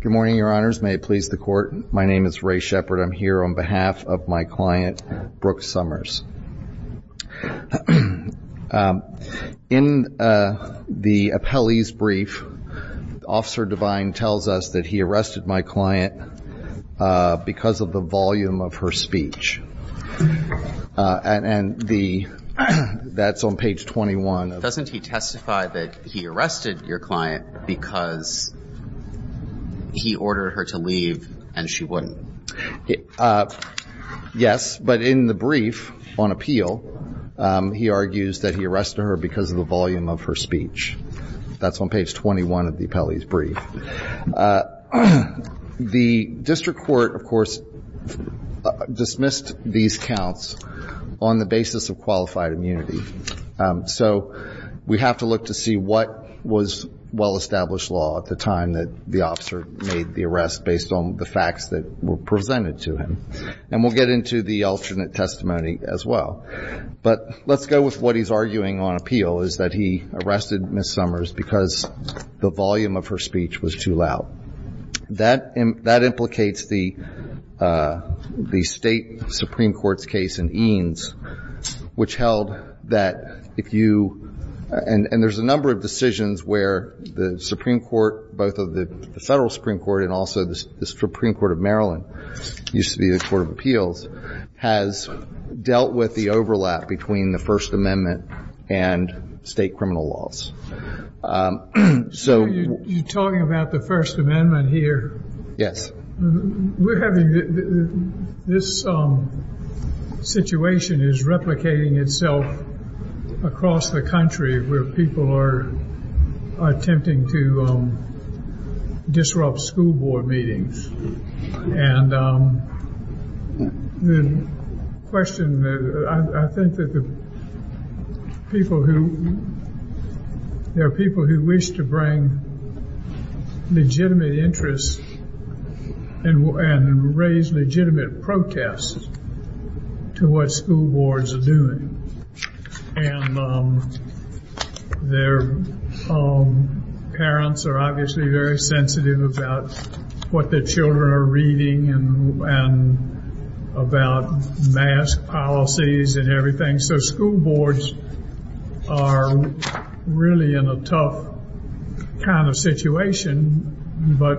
Good morning, your honors. May it please the court. My name is Ray Shepard. I'm here on behalf of my client, Brooke Somers. In the appellee's brief, Officer Devine tells us that he arrested my client because of the volume of her speech. And the, that's on page 21. Doesn't he testify that he arrested your client because he ordered her to leave and she wouldn't? Yes, but in the brief on appeal, he argues that he arrested her because of the volume of her speech. That's on page 21 of the appellee's brief. The district court, of course, dismissed these counts on the basis of qualified immunity. So we have to look to see what was well-established law at the time that the officer made the arrest based on the facts that were presented to him. And we'll get into the alternate testimony as well. But let's go with what he's arguing on appeal, is that he arrested Ms. Somers because the volume of her speech was too loud. That implicates the state Supreme Court's case in Eanes, which held that if you, and there's a number of decisions where the Supreme Court, both of the federal Supreme Court and also the Supreme Court of Maryland, used to be the appeals, has dealt with the overlap between the First Amendment and state criminal laws. So you're talking about the First Amendment here? Yes. We're having, this situation is replicating itself across the country where people are attempting to disrupt school board meetings. And the question, I think that the people who, there are people who wish to bring legitimate interests and raise legitimate protests to what school boards are doing. And their parents are obviously very sensitive about what their children are reading and about mask policies and everything. So school boards are really in a tough kind of situation. But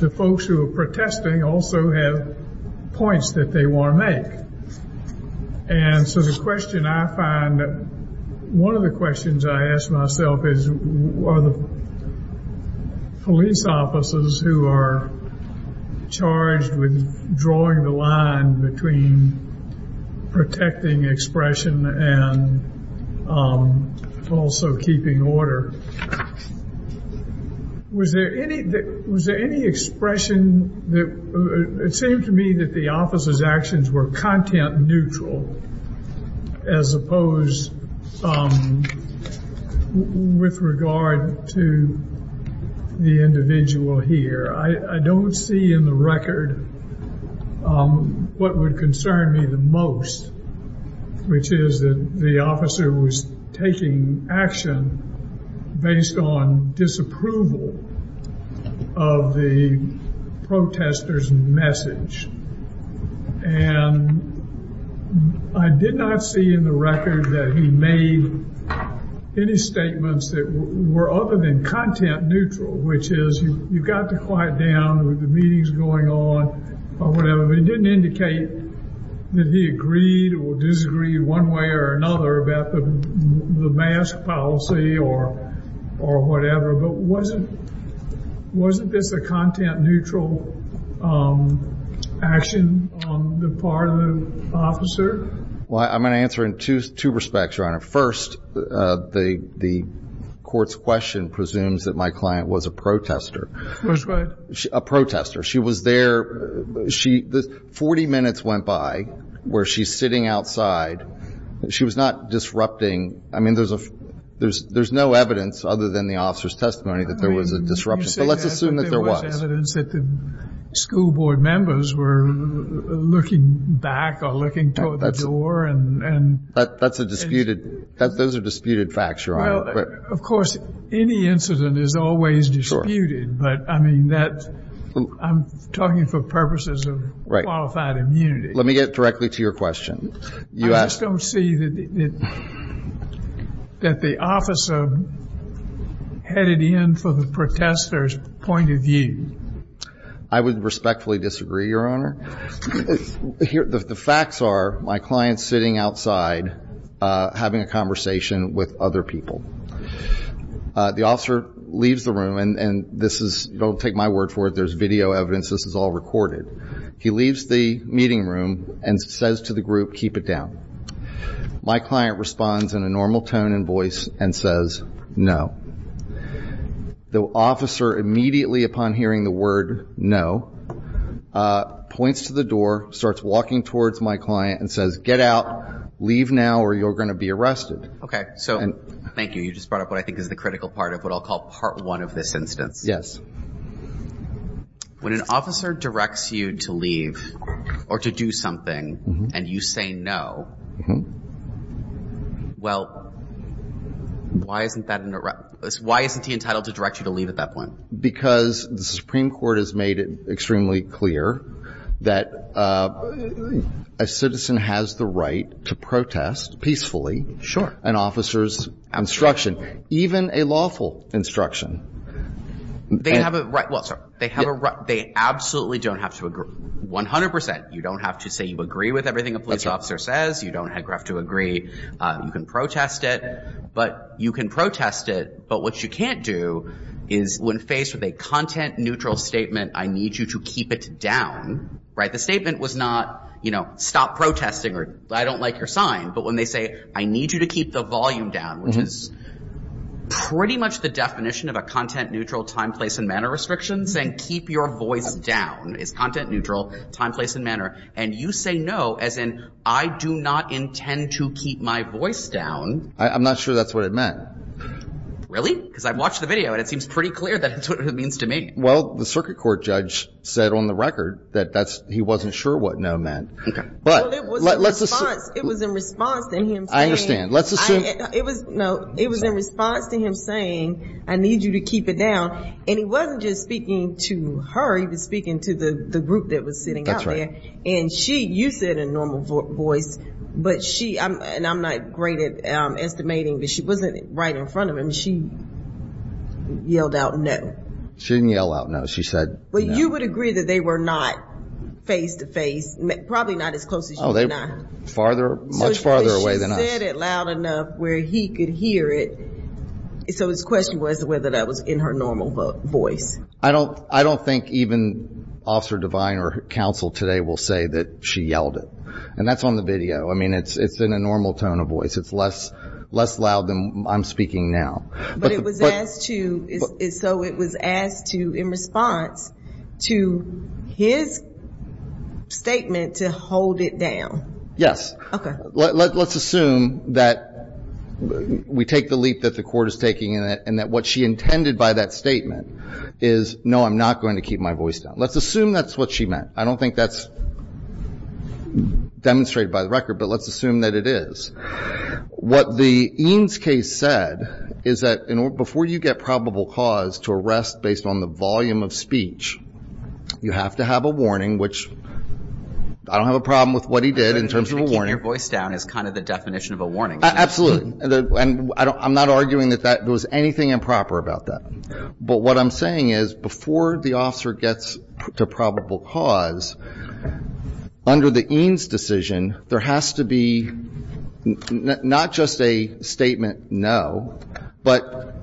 the folks who are protesting also have points that they want to make. And so the question I find, one of the questions I ask myself is, are the police officers who are charged with drawing the line between protecting expression and also keeping order, was there any expression that, it seemed to me that the officers actions were content neutral, as opposed with regard to the individual here. I don't see in the record what would concern me the most, which is that the officer was taking action based on disapproval of the protesters message. And I did not see in the record that he made any statements that were other than content neutral, which is you've got to quiet down with the meetings going on, or whatever. It didn't indicate that he agreed or disagreed one way or another about the mask policy or, or whatever. But wasn't this a content neutral action on the part of the officer? Well, I'm going to answer in two respects, Your Honor. First, the court's question presumes that my client was a protester. Was what? A protester. She was there. She, 40 minutes went by where she's sitting outside. She was not disrupting. I mean, there's no evidence other than the officer's testimony that there was a disruption. So let's assume that there was. You say that, but there was evidence that the school board members were looking back or looking toward the door. That's a disputed, those are disputed facts, Your Honor. Of course, any incident is always disputed, but I mean, that, I'm talking for purposes of qualified immunity. Let me get directly to your question. I just don't see that the officer headed in for the protester's point of view. I would respectfully disagree, Your Honor. The facts are my client's sitting outside, having a conversation with other people. The officer leaves the room, and this is, don't take my word for it, there's video evidence. This is all recorded. He leaves the meeting room and says to the group, keep it down. My client responds in a normal tone and voice and says, no. The officer, immediately upon hearing the word no, points to the door, starts walking towards my client and says, get out, leave now or you're going to be arrested. Okay. So, thank you. You just brought up what I think is the critical part of what I'll call part one of this instance. When an officer directs you to leave or to do something and you say no, well, why isn't that, why isn't he entitled to direct you to leave at that point? Because the Supreme Court has made it extremely clear that a citizen has the right to protest peacefully an officer's instruction, even a lawful instruction. They have a right, well, sorry, they have a right. They absolutely don't have to agree. One hundred percent. You don't have to say you agree with everything a police officer says. You don't have to agree. You can protest it, but you can protest it. But what you can't do is when faced with a content neutral statement, I need you to keep it down. Right. The statement was not, you know, stop protesting or I don't like your sign. But when they say I need you to keep the volume down, which is pretty much the definition of a content neutral time, place and manner restrictions and keep your voice down is content neutral, time, place and manner. And you say no, as in I do not intend to keep my voice down. I'm not sure that's what it meant. Really? Because I've watched the video and it seems pretty clear that it means to me. Well, the circuit court judge said on the record that that's he wasn't sure what no meant. But it was in response to him. I understand. Let's assume it was no, it was in response to him saying, I need you to keep it down. And he wasn't just speaking to her. He was speaking to the group that was sitting out there. And she, you said a normal voice, but she and I'm not great at estimating, but she wasn't right in front of him. She yelled out, no, she didn't yell out. No, she said, well, you would agree that they were not face to face. Probably not as close as you and I. Farther, much farther away than us. She said it loud enough where he could hear it. So his question was whether that was in her normal voice. I don't, I don't think even Officer Devine or counsel today will say that she yelled it. And that's on the video. I mean, it's, it's in a normal tone of voice. It's less, less loud than I'm speaking now. But it was asked to, so it was asked to, in response to his statement to hold it down. Yes. Okay. Let's assume that we take the leap that the court is taking in it and that what she intended by that statement is, no, I'm not going to keep my voice down. Let's assume that's what she meant. I don't think that's demonstrated by the record, but let's assume that it is. What the EANS case said is that before you get probable cause to arrest based on the volume of speech, you have to have a warning, which I don't have a problem with what he did in terms of a warning. Keeping your voice down is kind of the definition of a warning. Absolutely. And I don't, I'm not arguing that that was anything improper about that. But what I'm saying is before the officer gets to probable cause, under the EANS decision, there has to be not just a statement, no, but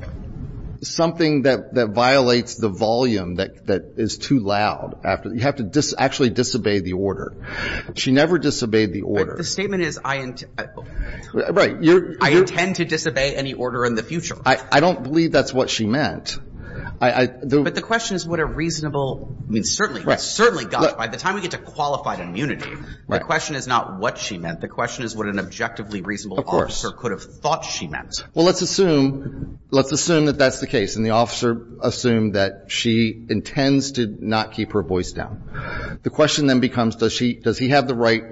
something that violates the volume that is too loud after, you have to actually disobey the order. She never disobeyed the order. The statement is, I intend to disobey any order in the future. I don't believe that's what she meant. But the question is what a reasonable, I mean, certainly, certainly, gosh, by the time we get to qualified immunity, the question is not what she meant. The question is what an objectively reasonable officer could have thought she meant. Well, let's assume, let's assume that that's the case. And the officer assumed that she intends to not keep her voice down. The question then becomes, does she, does he have the right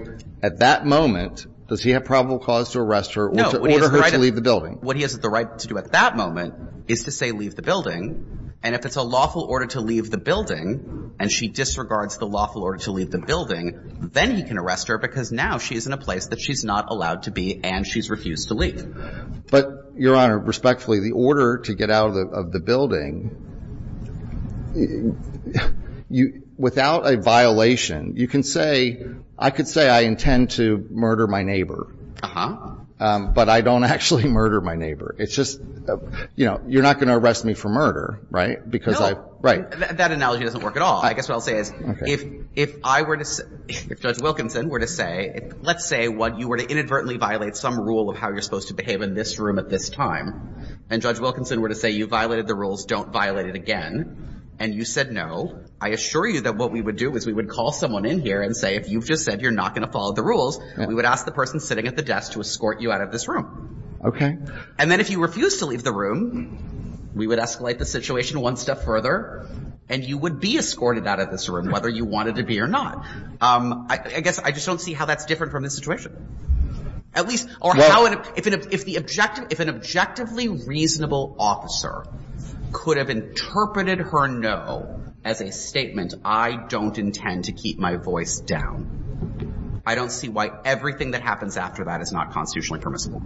at that moment, does he have probable cause to arrest her or to order her to leave the building? What he has the right to do at that moment is to say, leave the building. And if it's a lawful order to leave the building and she disregards the lawful order to leave the building, then he can arrest her because now she is in a place that she's not allowed to be and she's refused to leave. But, Your Honor, respectfully, the order to get out of the building, without a violation, you can say, I could say I intend to murder my neighbor. Uh-huh. But I don't actually murder my neighbor. It's just, you know, you're not going to arrest me for murder, right? Because I, right. That analogy doesn't work at all. I guess what I'll say is if, if I were to, if Judge Wilkinson were to say, let's say what you were to inadvertently violate some rule of how you're supposed to behave in this room at this time. And Judge Wilkinson were to say, you violated the rules, don't violate it again. And you said, no, I assure you that what we would do is we would call someone in here and say, if you've just said you're not going to follow the rules, we would ask the person sitting at the desk to escort you out of this room. Okay. And then if you refuse to leave the room, we would escalate the situation one step further and you would be escorted out of this room, whether you wanted to be or not. I guess I just don't see how that's different from the situation. At least, or how, if an objectively reasonable officer could have interpreted her no as a statement, I don't intend to keep my voice down. I don't see why everything that happens after that is not constitutionally permissible.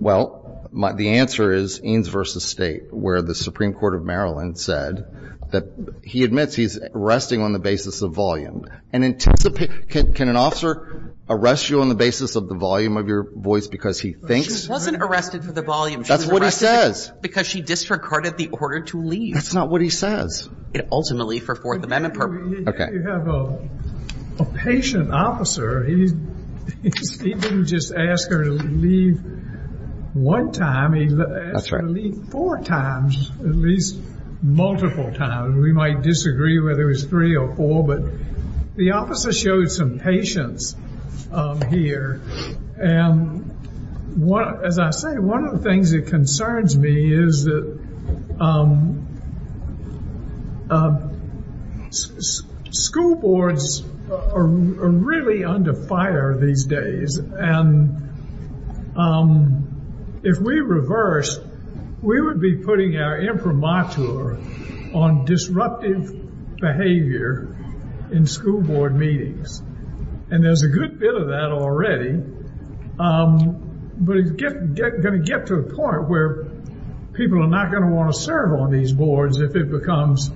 Well, the answer is Eanes v. State, where the Supreme Court of Maryland said that he admits he's arresting on the basis of volume. And anticipate, can an officer arrest you on the basis of the volume of your voice because he thinks? She wasn't arrested for the volume. That's what he says. Because she disregarded the order to leave. That's not what he says. It ultimately for Fourth Amendment purposes. Okay. A patient officer, he didn't just ask her to leave one time, he asked her to leave four times, at least multiple times. We might disagree whether it was three or four, but the officer showed some patience here. And as I say, one of the things that concerns me is that school boards are really under fire these days. And if we reverse, we would be putting our imprimatur on disruptive behavior in school board meetings. And there's a good bit of that already. But it's going to get to a point where people are not going to want to serve on these boards if it becomes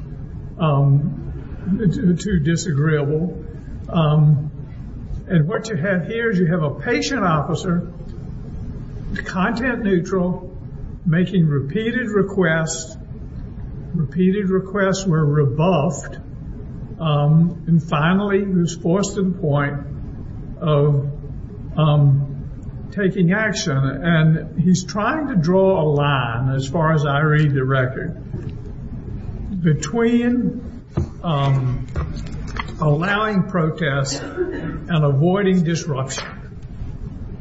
too disagreeable. And what you have here is you have a patient officer, content neutral, making repeated requests. Repeated requests were rebuffed. And finally, he was forced to the point of taking action. And he's trying to draw a line, as far as I read the record, between allowing protests and avoiding disruption.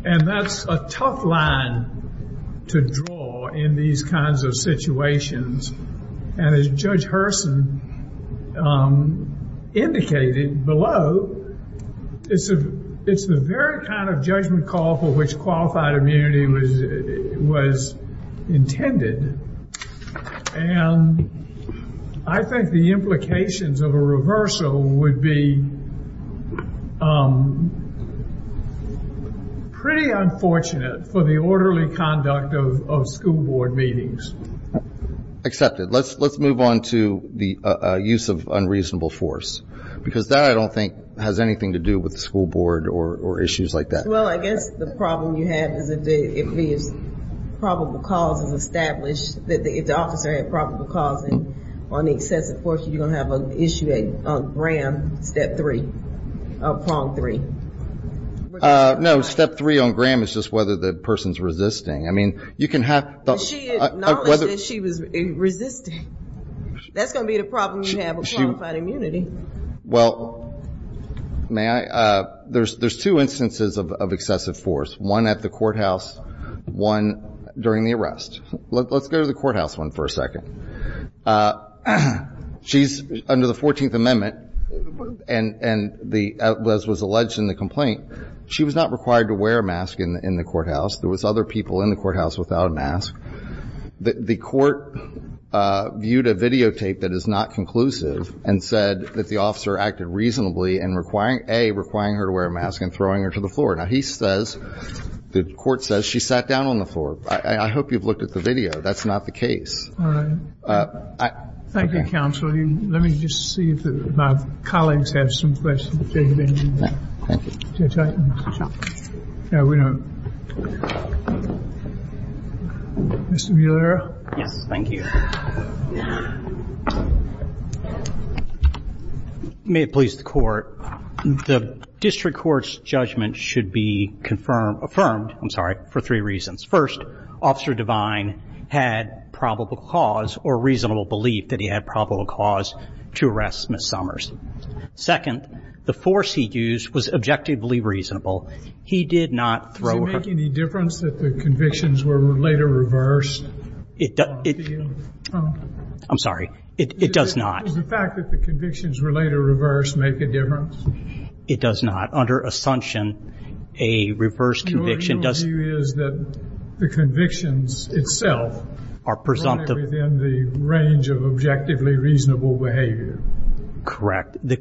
And that's a tough line to draw in these kinds of situations. And as Judge Hurson indicated below, it's the very kind of judgment call for which qualified immunity was intended. And I think the implications of a reversal would be pretty unfortunate for the orderly conduct of school board meetings. Accepted. Let's move on to the use of unreasonable force. Because that, I don't think, has anything to do with the school board or issues like that. Well, I guess the problem you have is if the officer had probable cause on excessive force, you're going to have an issue on gram, step three. No, step three on gram is just whether the person's resisting. I mean, you can have... But she acknowledged that she was resisting. That's going to be the problem you have with qualified immunity. Well, may I? There's two instances of excessive force, one at the courthouse, one during the arrest. Let's go to the courthouse one for a second. She's under the 14th Amendment, and as was alleged in the complaint, she was not required to wear a mask in the courthouse. There was other people in the courthouse without a mask. The court viewed a videotape that is not conclusive and said that the officer acted reasonably in requiring, A, requiring her to wear a mask and throwing her to the floor. Now, he says, the court says, she sat down on the floor. I hope you've looked at the video. That's not the case. Thank you, counsel. Let me just see if my colleagues have some questions. No, we don't. Mr. Villara. Yes, thank you. May it please the court. The district court's judgment should be confirmed, affirmed, I'm sorry, for three reasons. First, Officer Devine had probable cause or reasonable belief that he had probable cause to arrest Ms. Summers. Second, the force he used was objectively reasonable. He did not throw her. Does it make any difference that the convictions were later reversed? It does. I'm sorry. It does not. Does the fact that the convictions were later reversed make a difference? It does not. Under assumption, a reversed conviction does. Your view is that the convictions itself are presumptive within the range of objectively reasonable behavior. Correct. The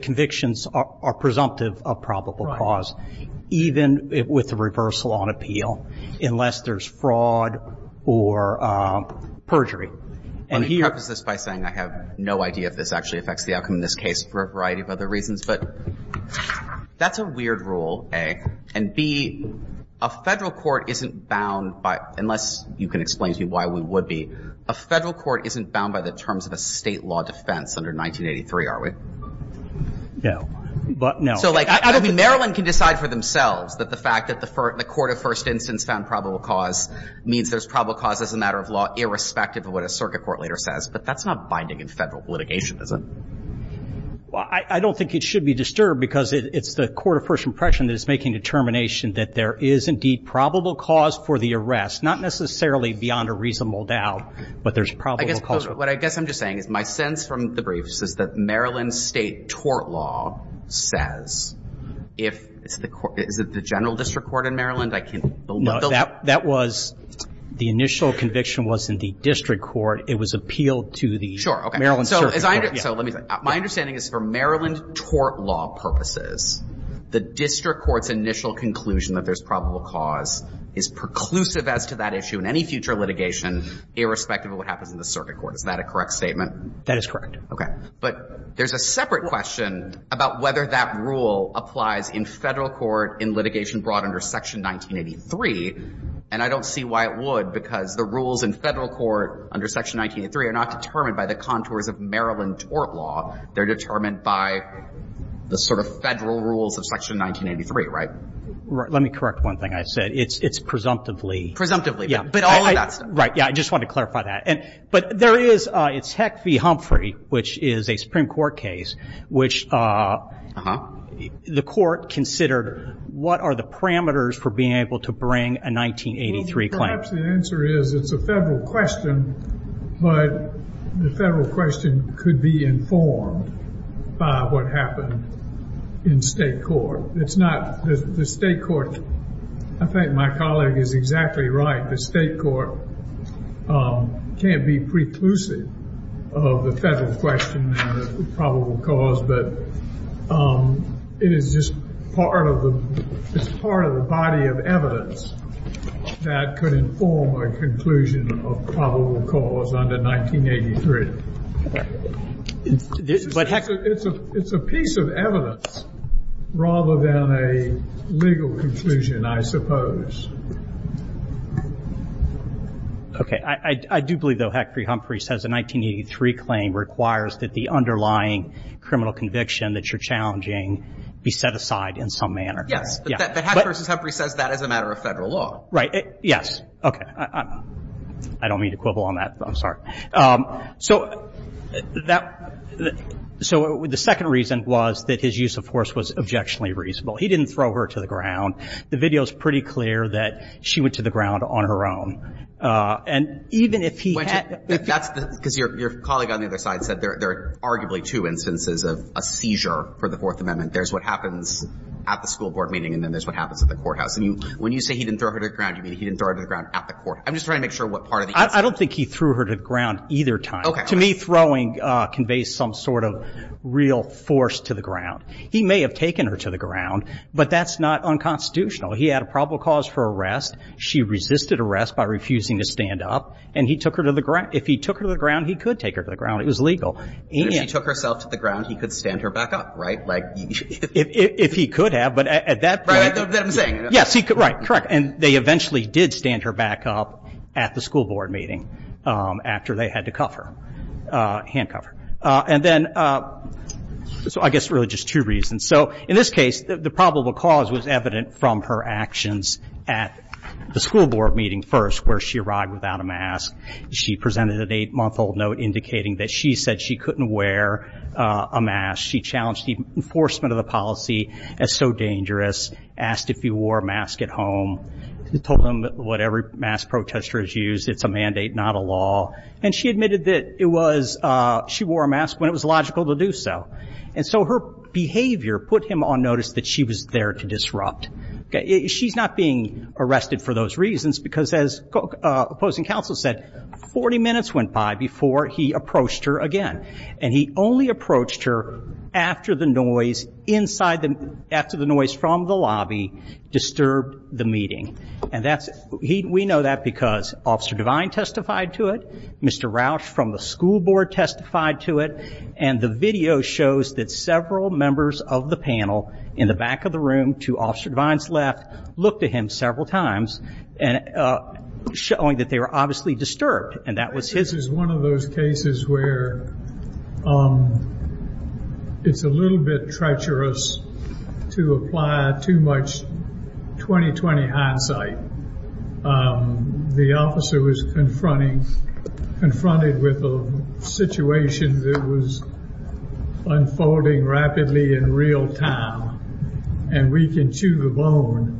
convictions are presumptive of probable cause, even with the reversal on appeal, unless there's fraud or perjury. Let me preface this by saying I have no idea if this actually affects the outcome in this case for a variety of other reasons. But that's a weird rule, A. And B, a federal court isn't bound by, unless you can explain to me why we would be, a federal court isn't bound by the terms of a state law defense under 1983, are we? No, but no. So, like, I don't think Maryland can decide for themselves that the fact that the court of first instance found probable cause means there's probable cause as a matter of law, irrespective of what a circuit court later says. But that's not binding in federal litigation, is it? Well, I don't think it should be disturbed because it's the court of first impression that is making determination that there is indeed probable cause for the arrest, not necessarily beyond a reasonable doubt, but there's probable cause. What I guess I'm just saying is my sense from the briefs is that Maryland state tort law says, if it's the court, is it the general district court in Maryland? I can't believe it. No, that was, the initial conviction was in the district court. It was appealed to the Maryland circuit court. So, let me say, my understanding is for Maryland tort law purposes, the district court's initial conclusion that there's probable cause is preclusive as to that issue in any future litigation, irrespective of what happens in the circuit court. Is that a correct statement? That is correct. But there's a separate question about whether that rule applies in federal court in litigation brought under section 1983. And I don't see why it would, because the rules in federal court under section 1983 are not determined by the contours of Maryland tort law. They're determined by the sort of federal rules of section 1983, right? Let me correct one thing I said. It's presumptively. Presumptively, but all of that stuff. Right, yeah, I just wanted to clarify that. But there is, it's Heck v. Humphrey, which is a Supreme Court case, which the court considered what are the parameters for being able to bring a 1983 claim? Perhaps the answer is it's a federal question, but the federal question could be informed by what happened in state court. It's not, the state court, I think my colleague is exactly right. The state court can't be preclusive of the federal question and the probable cause. But it is just part of the, it's part of the body of evidence that could inform a conclusion of probable cause under 1983. It's a piece of evidence rather than a legal conclusion, I suppose. Okay, I do believe, though, Heck v. Humphrey says a 1983 claim requires that the underlying criminal conviction that you're challenging be set aside in some manner. Yes, but Heck v. Humphrey says that as a matter of federal law. Right, yes, okay, I don't mean to quibble on that, I'm sorry. So the second reason was that his use of force was objectionably reasonable. He didn't throw her to the ground. The video is pretty clear that she went to the ground on her own. And even if he had, if he had, that's the, because your colleague on the other side said there are arguably two instances of a seizure for the Fourth Amendment. There's what happens at the school board meeting and then there's what happens at the courthouse. And when you say he didn't throw her to the ground, you mean he didn't throw her to the ground at the courthouse. I'm just trying to make sure what part of the answer. I don't think he threw her to the ground either time. To me, throwing conveys some sort of real force to the ground. He may have taken her to the ground, but that's not unconstitutional. He had a probable cause for arrest. She resisted arrest by refusing to stand up. And he took her to the ground. If he took her to the ground, he could take her to the ground. It was legal. But if she took herself to the ground, he could stand her back up, right? Like, if he could have, but at that point. Right, that's what I'm saying. Yes, he could, right, correct. And they eventually did stand her back up at the school board meeting after they had to cuff her, hand cuff her. And then, so I guess really just two reasons. So in this case, the probable cause was evident from her actions at the school board meeting first, where she arrived without a mask. She presented an eight-month-old note indicating that she said she couldn't wear a mask. She challenged the enforcement of the policy as so dangerous, asked if he wore a mask at home, told him what every mass protester has used. It's a mandate, not a law. And she admitted that it was, she wore a mask when it was logical to do so. And so her behavior put him on notice that she was there to disrupt. She's not being arrested for those reasons, because as opposing counsel said, 40 minutes went by before he approached her again. And he only approached her after the noise from the lobby disturbed the meeting. And that's, we know that because Officer Devine testified to it. Mr. Rauch from the school board testified to it. And the video shows that several members of the panel in the back of the room, to Officer Devine's left, looked at him several times, showing that they were obviously disturbed. And that was his- This is one of those cases where it's a little bit treacherous to apply too much 20-20 hindsight. The officer was confronting, confronted with a situation that was unfolding rapidly in real time. And we can chew the bone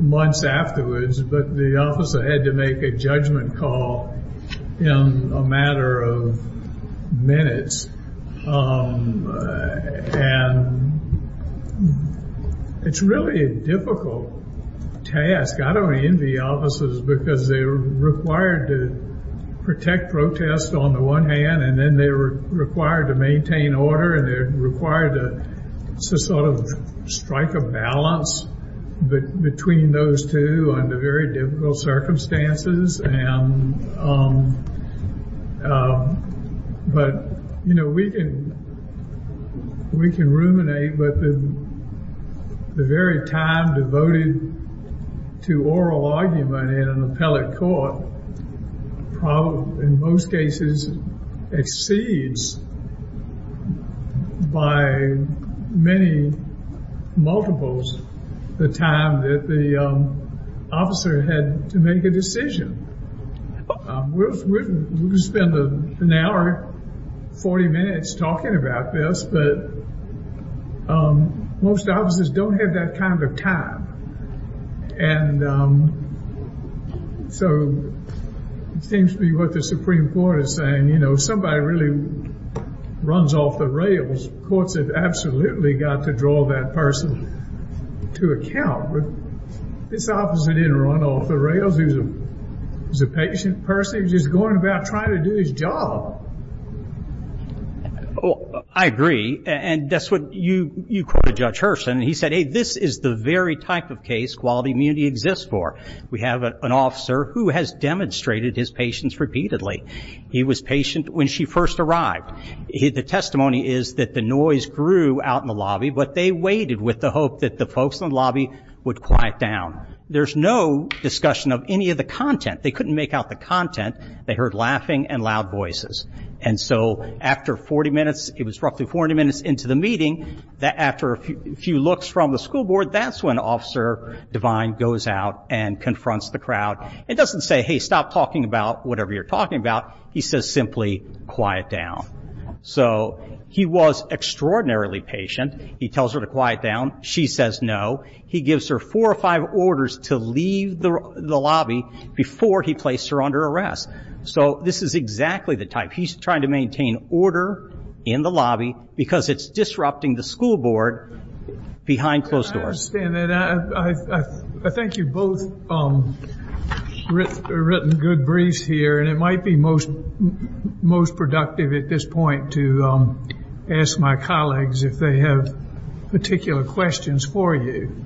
months afterwards. But the officer had to make a judgment call in a matter of minutes. And it's really a difficult task. I don't envy officers because they're required to protect protests on the one hand. And then they're required to maintain order. And they're required to sort of strike a balance between those two under very difficult circumstances. And, but, you know, we can, we can ruminate. But the very time devoted to oral argument in an appellate court, in most cases, exceeds by many multiples the time that the officer had to make a decision. We could spend an hour, 40 minutes talking about this. But most officers don't have that kind of time. And so it seems to be what the Supreme Court is saying. You know, somebody really runs off the rails. Courts have absolutely got to draw that person to account. But this officer didn't run off the rails. He was a patient person. He was just going about trying to do his job. Oh, I agree. And that's what you, you quoted Judge Hurston. He said, hey, this is the very type of case quality immunity exists for. We have an officer who has demonstrated his patience repeatedly. He was patient when she first arrived. The testimony is that the noise grew out in the lobby. But they waited with the hope that the folks in the lobby would quiet down. There's no discussion of any of the content. They couldn't make out the content. They heard laughing and loud voices. And so after 40 minutes, it was roughly 40 minutes into the meeting, that after a few looks from the school board, that's when Officer Devine goes out and confronts the crowd. It doesn't say, hey, stop talking about whatever you're talking about. He says simply, quiet down. So he was extraordinarily patient. He tells her to quiet down. She says no. He gives her four or five orders to leave the lobby before he placed her under arrest. So this is exactly the type. He's trying to maintain order in the lobby because it's disrupting the school board behind closed doors. I understand that. I think you've both written good briefs here. And it might be most productive at this point to ask my colleagues if they have particular questions for you.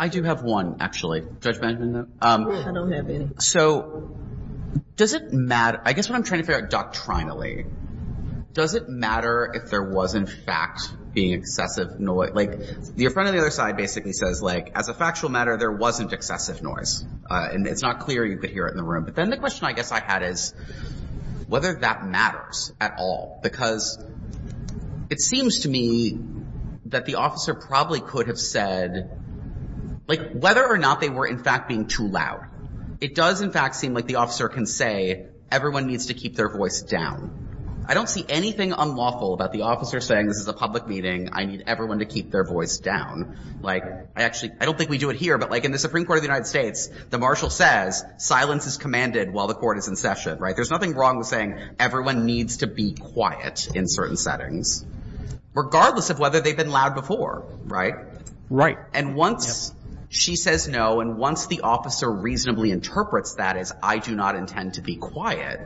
I do have one, actually. Judge Benjamin, no? No, I don't have any. So does it matter? I guess what I'm trying to figure out doctrinally, does it matter if there was in fact being excessive noise? Like your friend on the other side basically says, like, as a factual matter, there wasn't excessive noise. And it's not clear you could hear it in the room. But then the question I guess I had is whether that matters at all. Because it seems to me that the officer probably could have said, like, whether or not they were in fact being too loud. It does in fact seem like the officer can say, everyone needs to keep their voice down. I don't see anything unlawful about the officer saying, this is a public meeting. I need everyone to keep their voice down. Like, I actually, I don't think we do it here. But like in the Supreme Court of the United States, the marshal says, silence is commanded while the court is in session, right? There's nothing wrong with saying, everyone needs to be quiet in certain settings, regardless of whether they've been loud before, right? Right. And once she says no, and once the officer reasonably interprets that as, I do not intend to be quiet,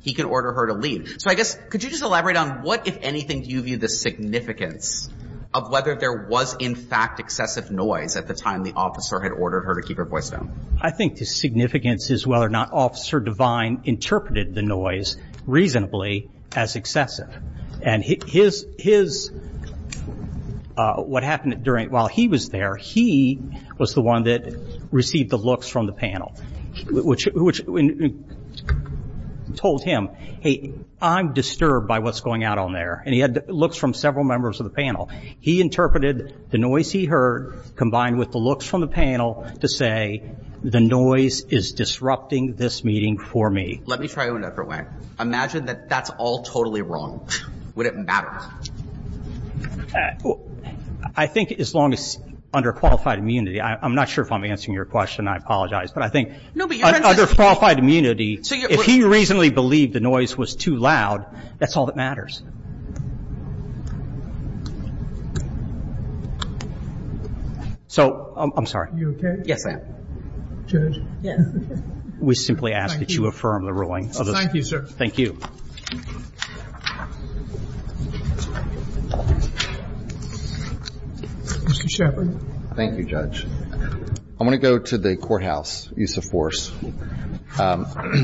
he can order her to leave. So I guess, could you just elaborate on what, if anything, do you view the significance of whether there was in fact excessive noise at the time the officer had ordered her to keep her voice down? I think the significance is whether or not Officer Devine interpreted the noise reasonably as excessive. And his, what happened during, while he was there, he was the one that received the looks from the panel, which told him, hey, I'm disturbed by what's going out on there. And he had looks from several members of the panel. He interpreted the noise he heard combined with the looks from the panel to say, the noise is disrupting this meeting for me. Let me try it another way. Imagine that that's all totally wrong. Would it matter? I think as long as, under qualified immunity, I'm not sure if I'm answering your question, I apologize. But I think, under qualified immunity, if he reasonably believed the noise was too loud, that's all that matters. So, I'm sorry. You okay? Yes, ma'am. Judge? Yes. We simply ask that you affirm the ruling. Thank you, sir. Thank you. Mr. Shepard. Thank you, Judge. I want to go to the courthouse use of force. I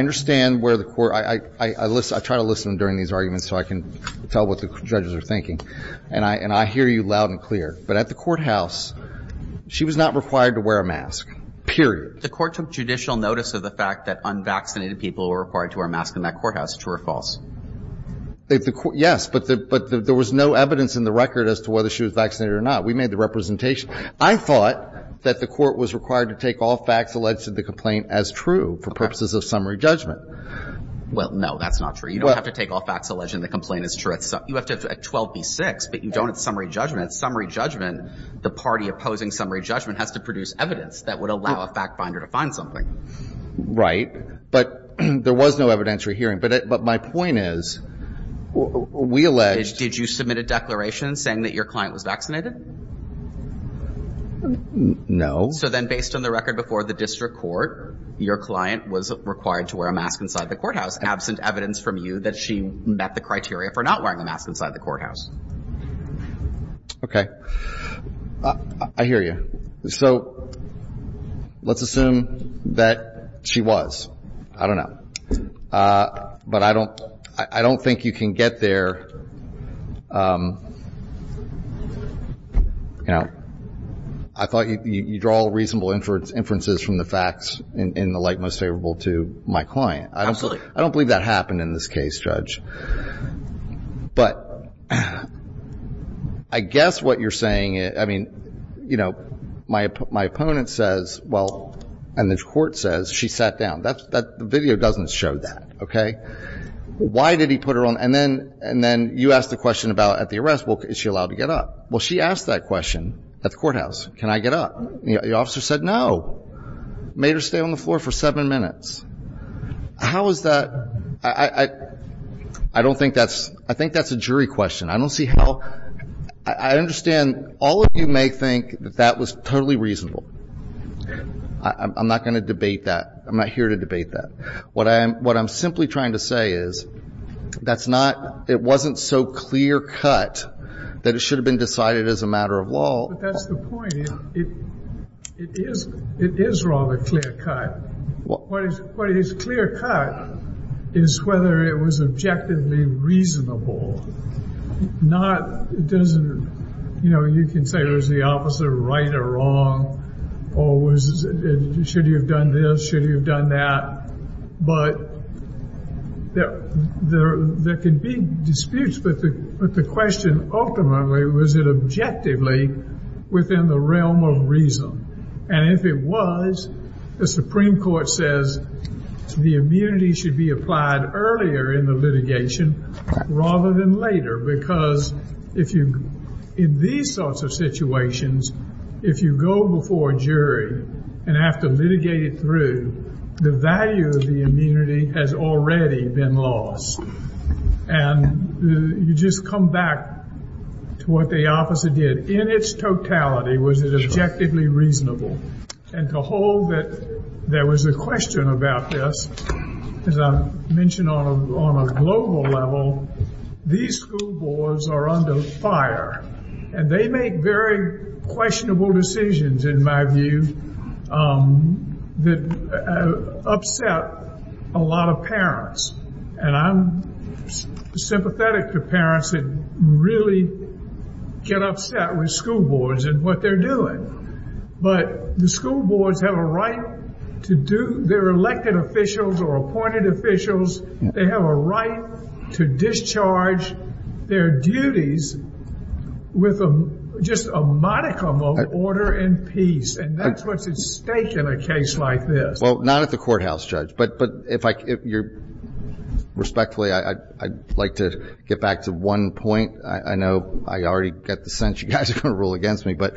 understand where the court, I try to listen during these arguments so I can tell what the judges are thinking. And I hear you loud and clear. But at the courthouse, she was not required to wear a mask, period. The court took judicial notice of the fact that unvaccinated people were required to wear a mask in that courthouse, true or false? Yes, but there was no evidence in the record as to whether she was vaccinated or not. We made the representation. I thought that the court was required to take all facts alleged to the complaint as true for purposes of summary judgment. Well, no, that's not true. You don't have to take all facts alleged in the complaint as true. You have to at 12 v. 6, but you don't at summary judgment. At summary judgment, the party opposing summary judgment has to produce evidence that would allow a fact finder to find something. Right, but there was no evidence you're hearing. But my point is, we allege... Did you submit a declaration saying that your client was vaccinated? No. So then based on the record before the district court, your client was required to wear a mask inside the courthouse absent evidence from you that she met the criteria for not wearing a mask inside the courthouse. Okay, I hear you. So let's assume that she was. I don't know. But I don't think you can get there... You know, I thought you draw reasonable inferences from the facts in the light most favorable to my client. Absolutely. I don't believe that happened in this case, Judge. But I guess what you're saying, I mean, you know, my opponent says, well, and the court says she sat down. That video doesn't show that. Okay, why did he put her on? And then you asked the question about at the arrest, well, is she allowed to get up? Well, she asked that question at the courthouse. Can I get up? The officer said, no. Made her stay on the floor for seven minutes. How is that? I don't think that's... I think that's a jury question. I don't see how... I understand all of you may think that that was totally reasonable. I'm not going to debate that. I'm not here to debate that. What I'm simply trying to say is that's not... It wasn't so clear cut that it should have been decided as a matter of law. But that's the point. It is rather clear cut. What is clear cut is whether it was objectively reasonable. Not, it doesn't... You know, you can say, was the officer right or wrong? Or should he have done this? Should he have done that? But there can be disputes. But the question ultimately, was it objectively within the realm of reason? And if it was, the Supreme Court says, the immunity should be applied earlier in the litigation rather than later. Because if you, in these sorts of situations, if you go before a jury and have to litigate it through, the value of the immunity has already been lost. And you just come back to what the officer did. In its totality, was it objectively reasonable? And to hold that there was a question about this, as I mentioned on a global level, these school boards are under fire. And they make very questionable decisions, in my view, that upset a lot of parents. And I'm sympathetic to parents that really get upset with school boards and what they're doing. But the school boards have a right to do, they're elected officials or appointed officials. They have a right to discharge their duties with just a modicum of order and peace. And that's what's at stake in a case like this. Well, not at the courthouse, Judge. But respectfully, I'd like to get back to one point. I know I already get the sense you guys are going to rule against me. But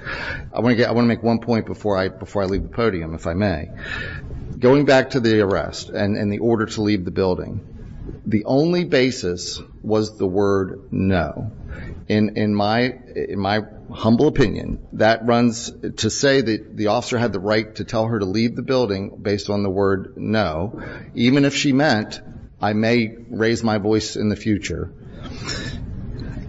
I want to make one point before I leave the podium, if I may. Going back to the arrest and the order to leave the building, the only basis was the word no. And in my humble opinion, that runs to say that the officer had the right to tell her to leave the building based on the word no, even if she meant, I may raise my voice in the future.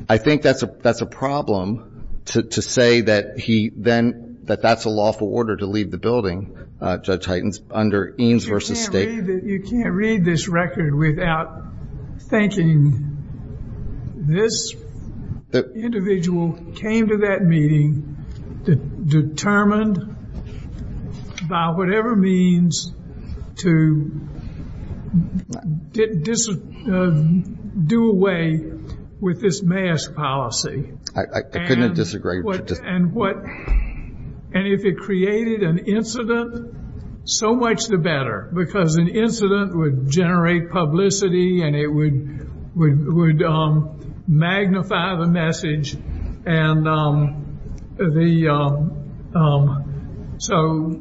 I think that's a problem to say that he then, that that's a lawful order to leave the building, Judge Hytens, under Eames v. State. You can't read this record without thinking this individual came to that meeting determined by whatever means to do away with this mask policy. I couldn't disagree. And what, and if it created an incident, so much the better. Because an incident would generate publicity and it would magnify the message. And the, so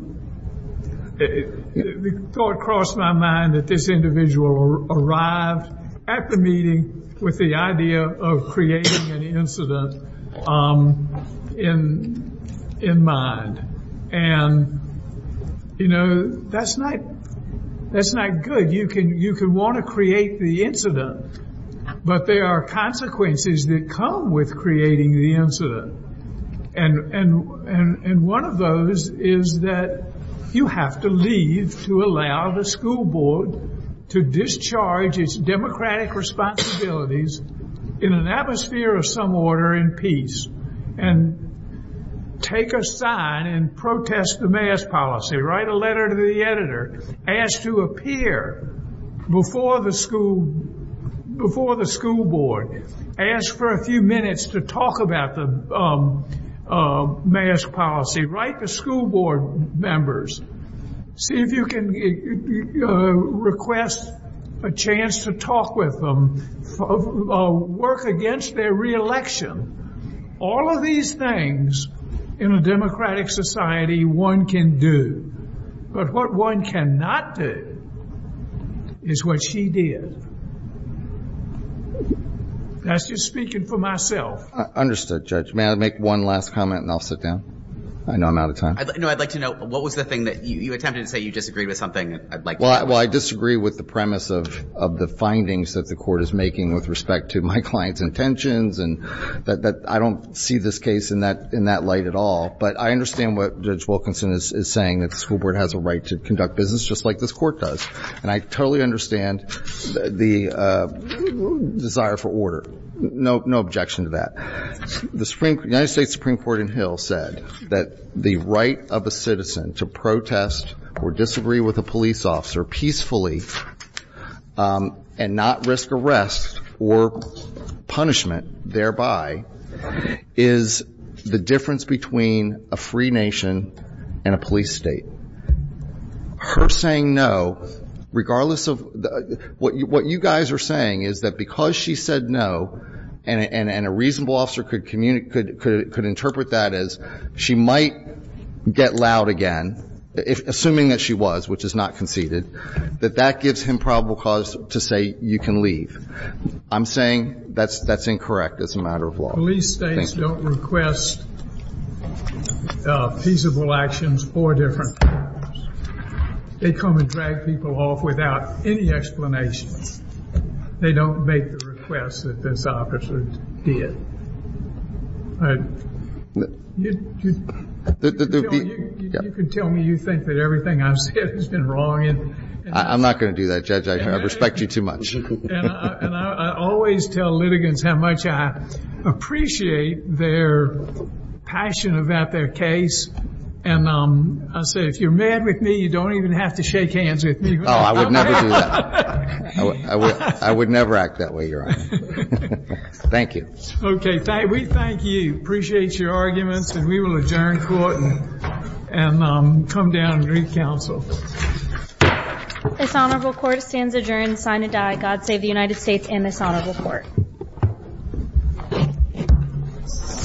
the thought crossed my mind that this individual arrived at the meeting with the idea of creating an incident in mind. And, you know, that's not, that's not good. You can, you can want to create the incident. But there are consequences that come with creating the incident. And one of those is that you have to leave to allow the school board to discharge its democratic responsibilities in an atmosphere of some order in peace. And take a sign and protest the mask policy, write a letter to the editor, ask to appear before the school, before the school board, ask for a few minutes to talk about the mask policy, write the school board members, see if you can request a chance to talk with them, work against their re-election. All of these things in a democratic society one can do. But what one cannot do is what she did. That's just speaking for myself. I understood, Judge. May I make one last comment and I'll sit down? I know I'm out of time. No, I'd like to know, what was the thing that you attempted to say you disagreed with something? I'd like to know. Well, I disagree with the premise of the findings that the court is making with respect to my client's intentions. And that I don't see this case in that light at all. But I understand what Judge Wilkinson is saying. That the school board has a right to conduct business, just like this court does. And I totally understand the desire for order. No objection to that. The United States Supreme Court in Hill said that the right of a citizen to protest or disagree with a police officer peacefully and not risk arrest or punishment thereby is the difference between a free nation and a police state. Her saying no, regardless of what you guys are saying, is that because she said no, and a reasonable officer could interpret that as she might get loud again, assuming that she was, which is not conceded, that that gives him probable cause to say you can leave. I'm saying that's incorrect. It's a matter of law. Police states don't request feasible actions or different forms. They come and drag people off without any explanation. They don't make the request that this officer did. You can tell me you think that everything I've said has been wrong. I'm not going to do that, Judge. I respect you too much. And I always tell litigants how much I appreciate their passion about their case. And I say, if you're mad with me, you don't even have to shake hands with me. Oh, I would never do that. I would never act that way, Your Honor. Thank you. OK. We thank you. Appreciate your arguments. And we will adjourn court and come down and read counsel. This honorable court stands adjourned, sign and die. God save the United States and this honorable court.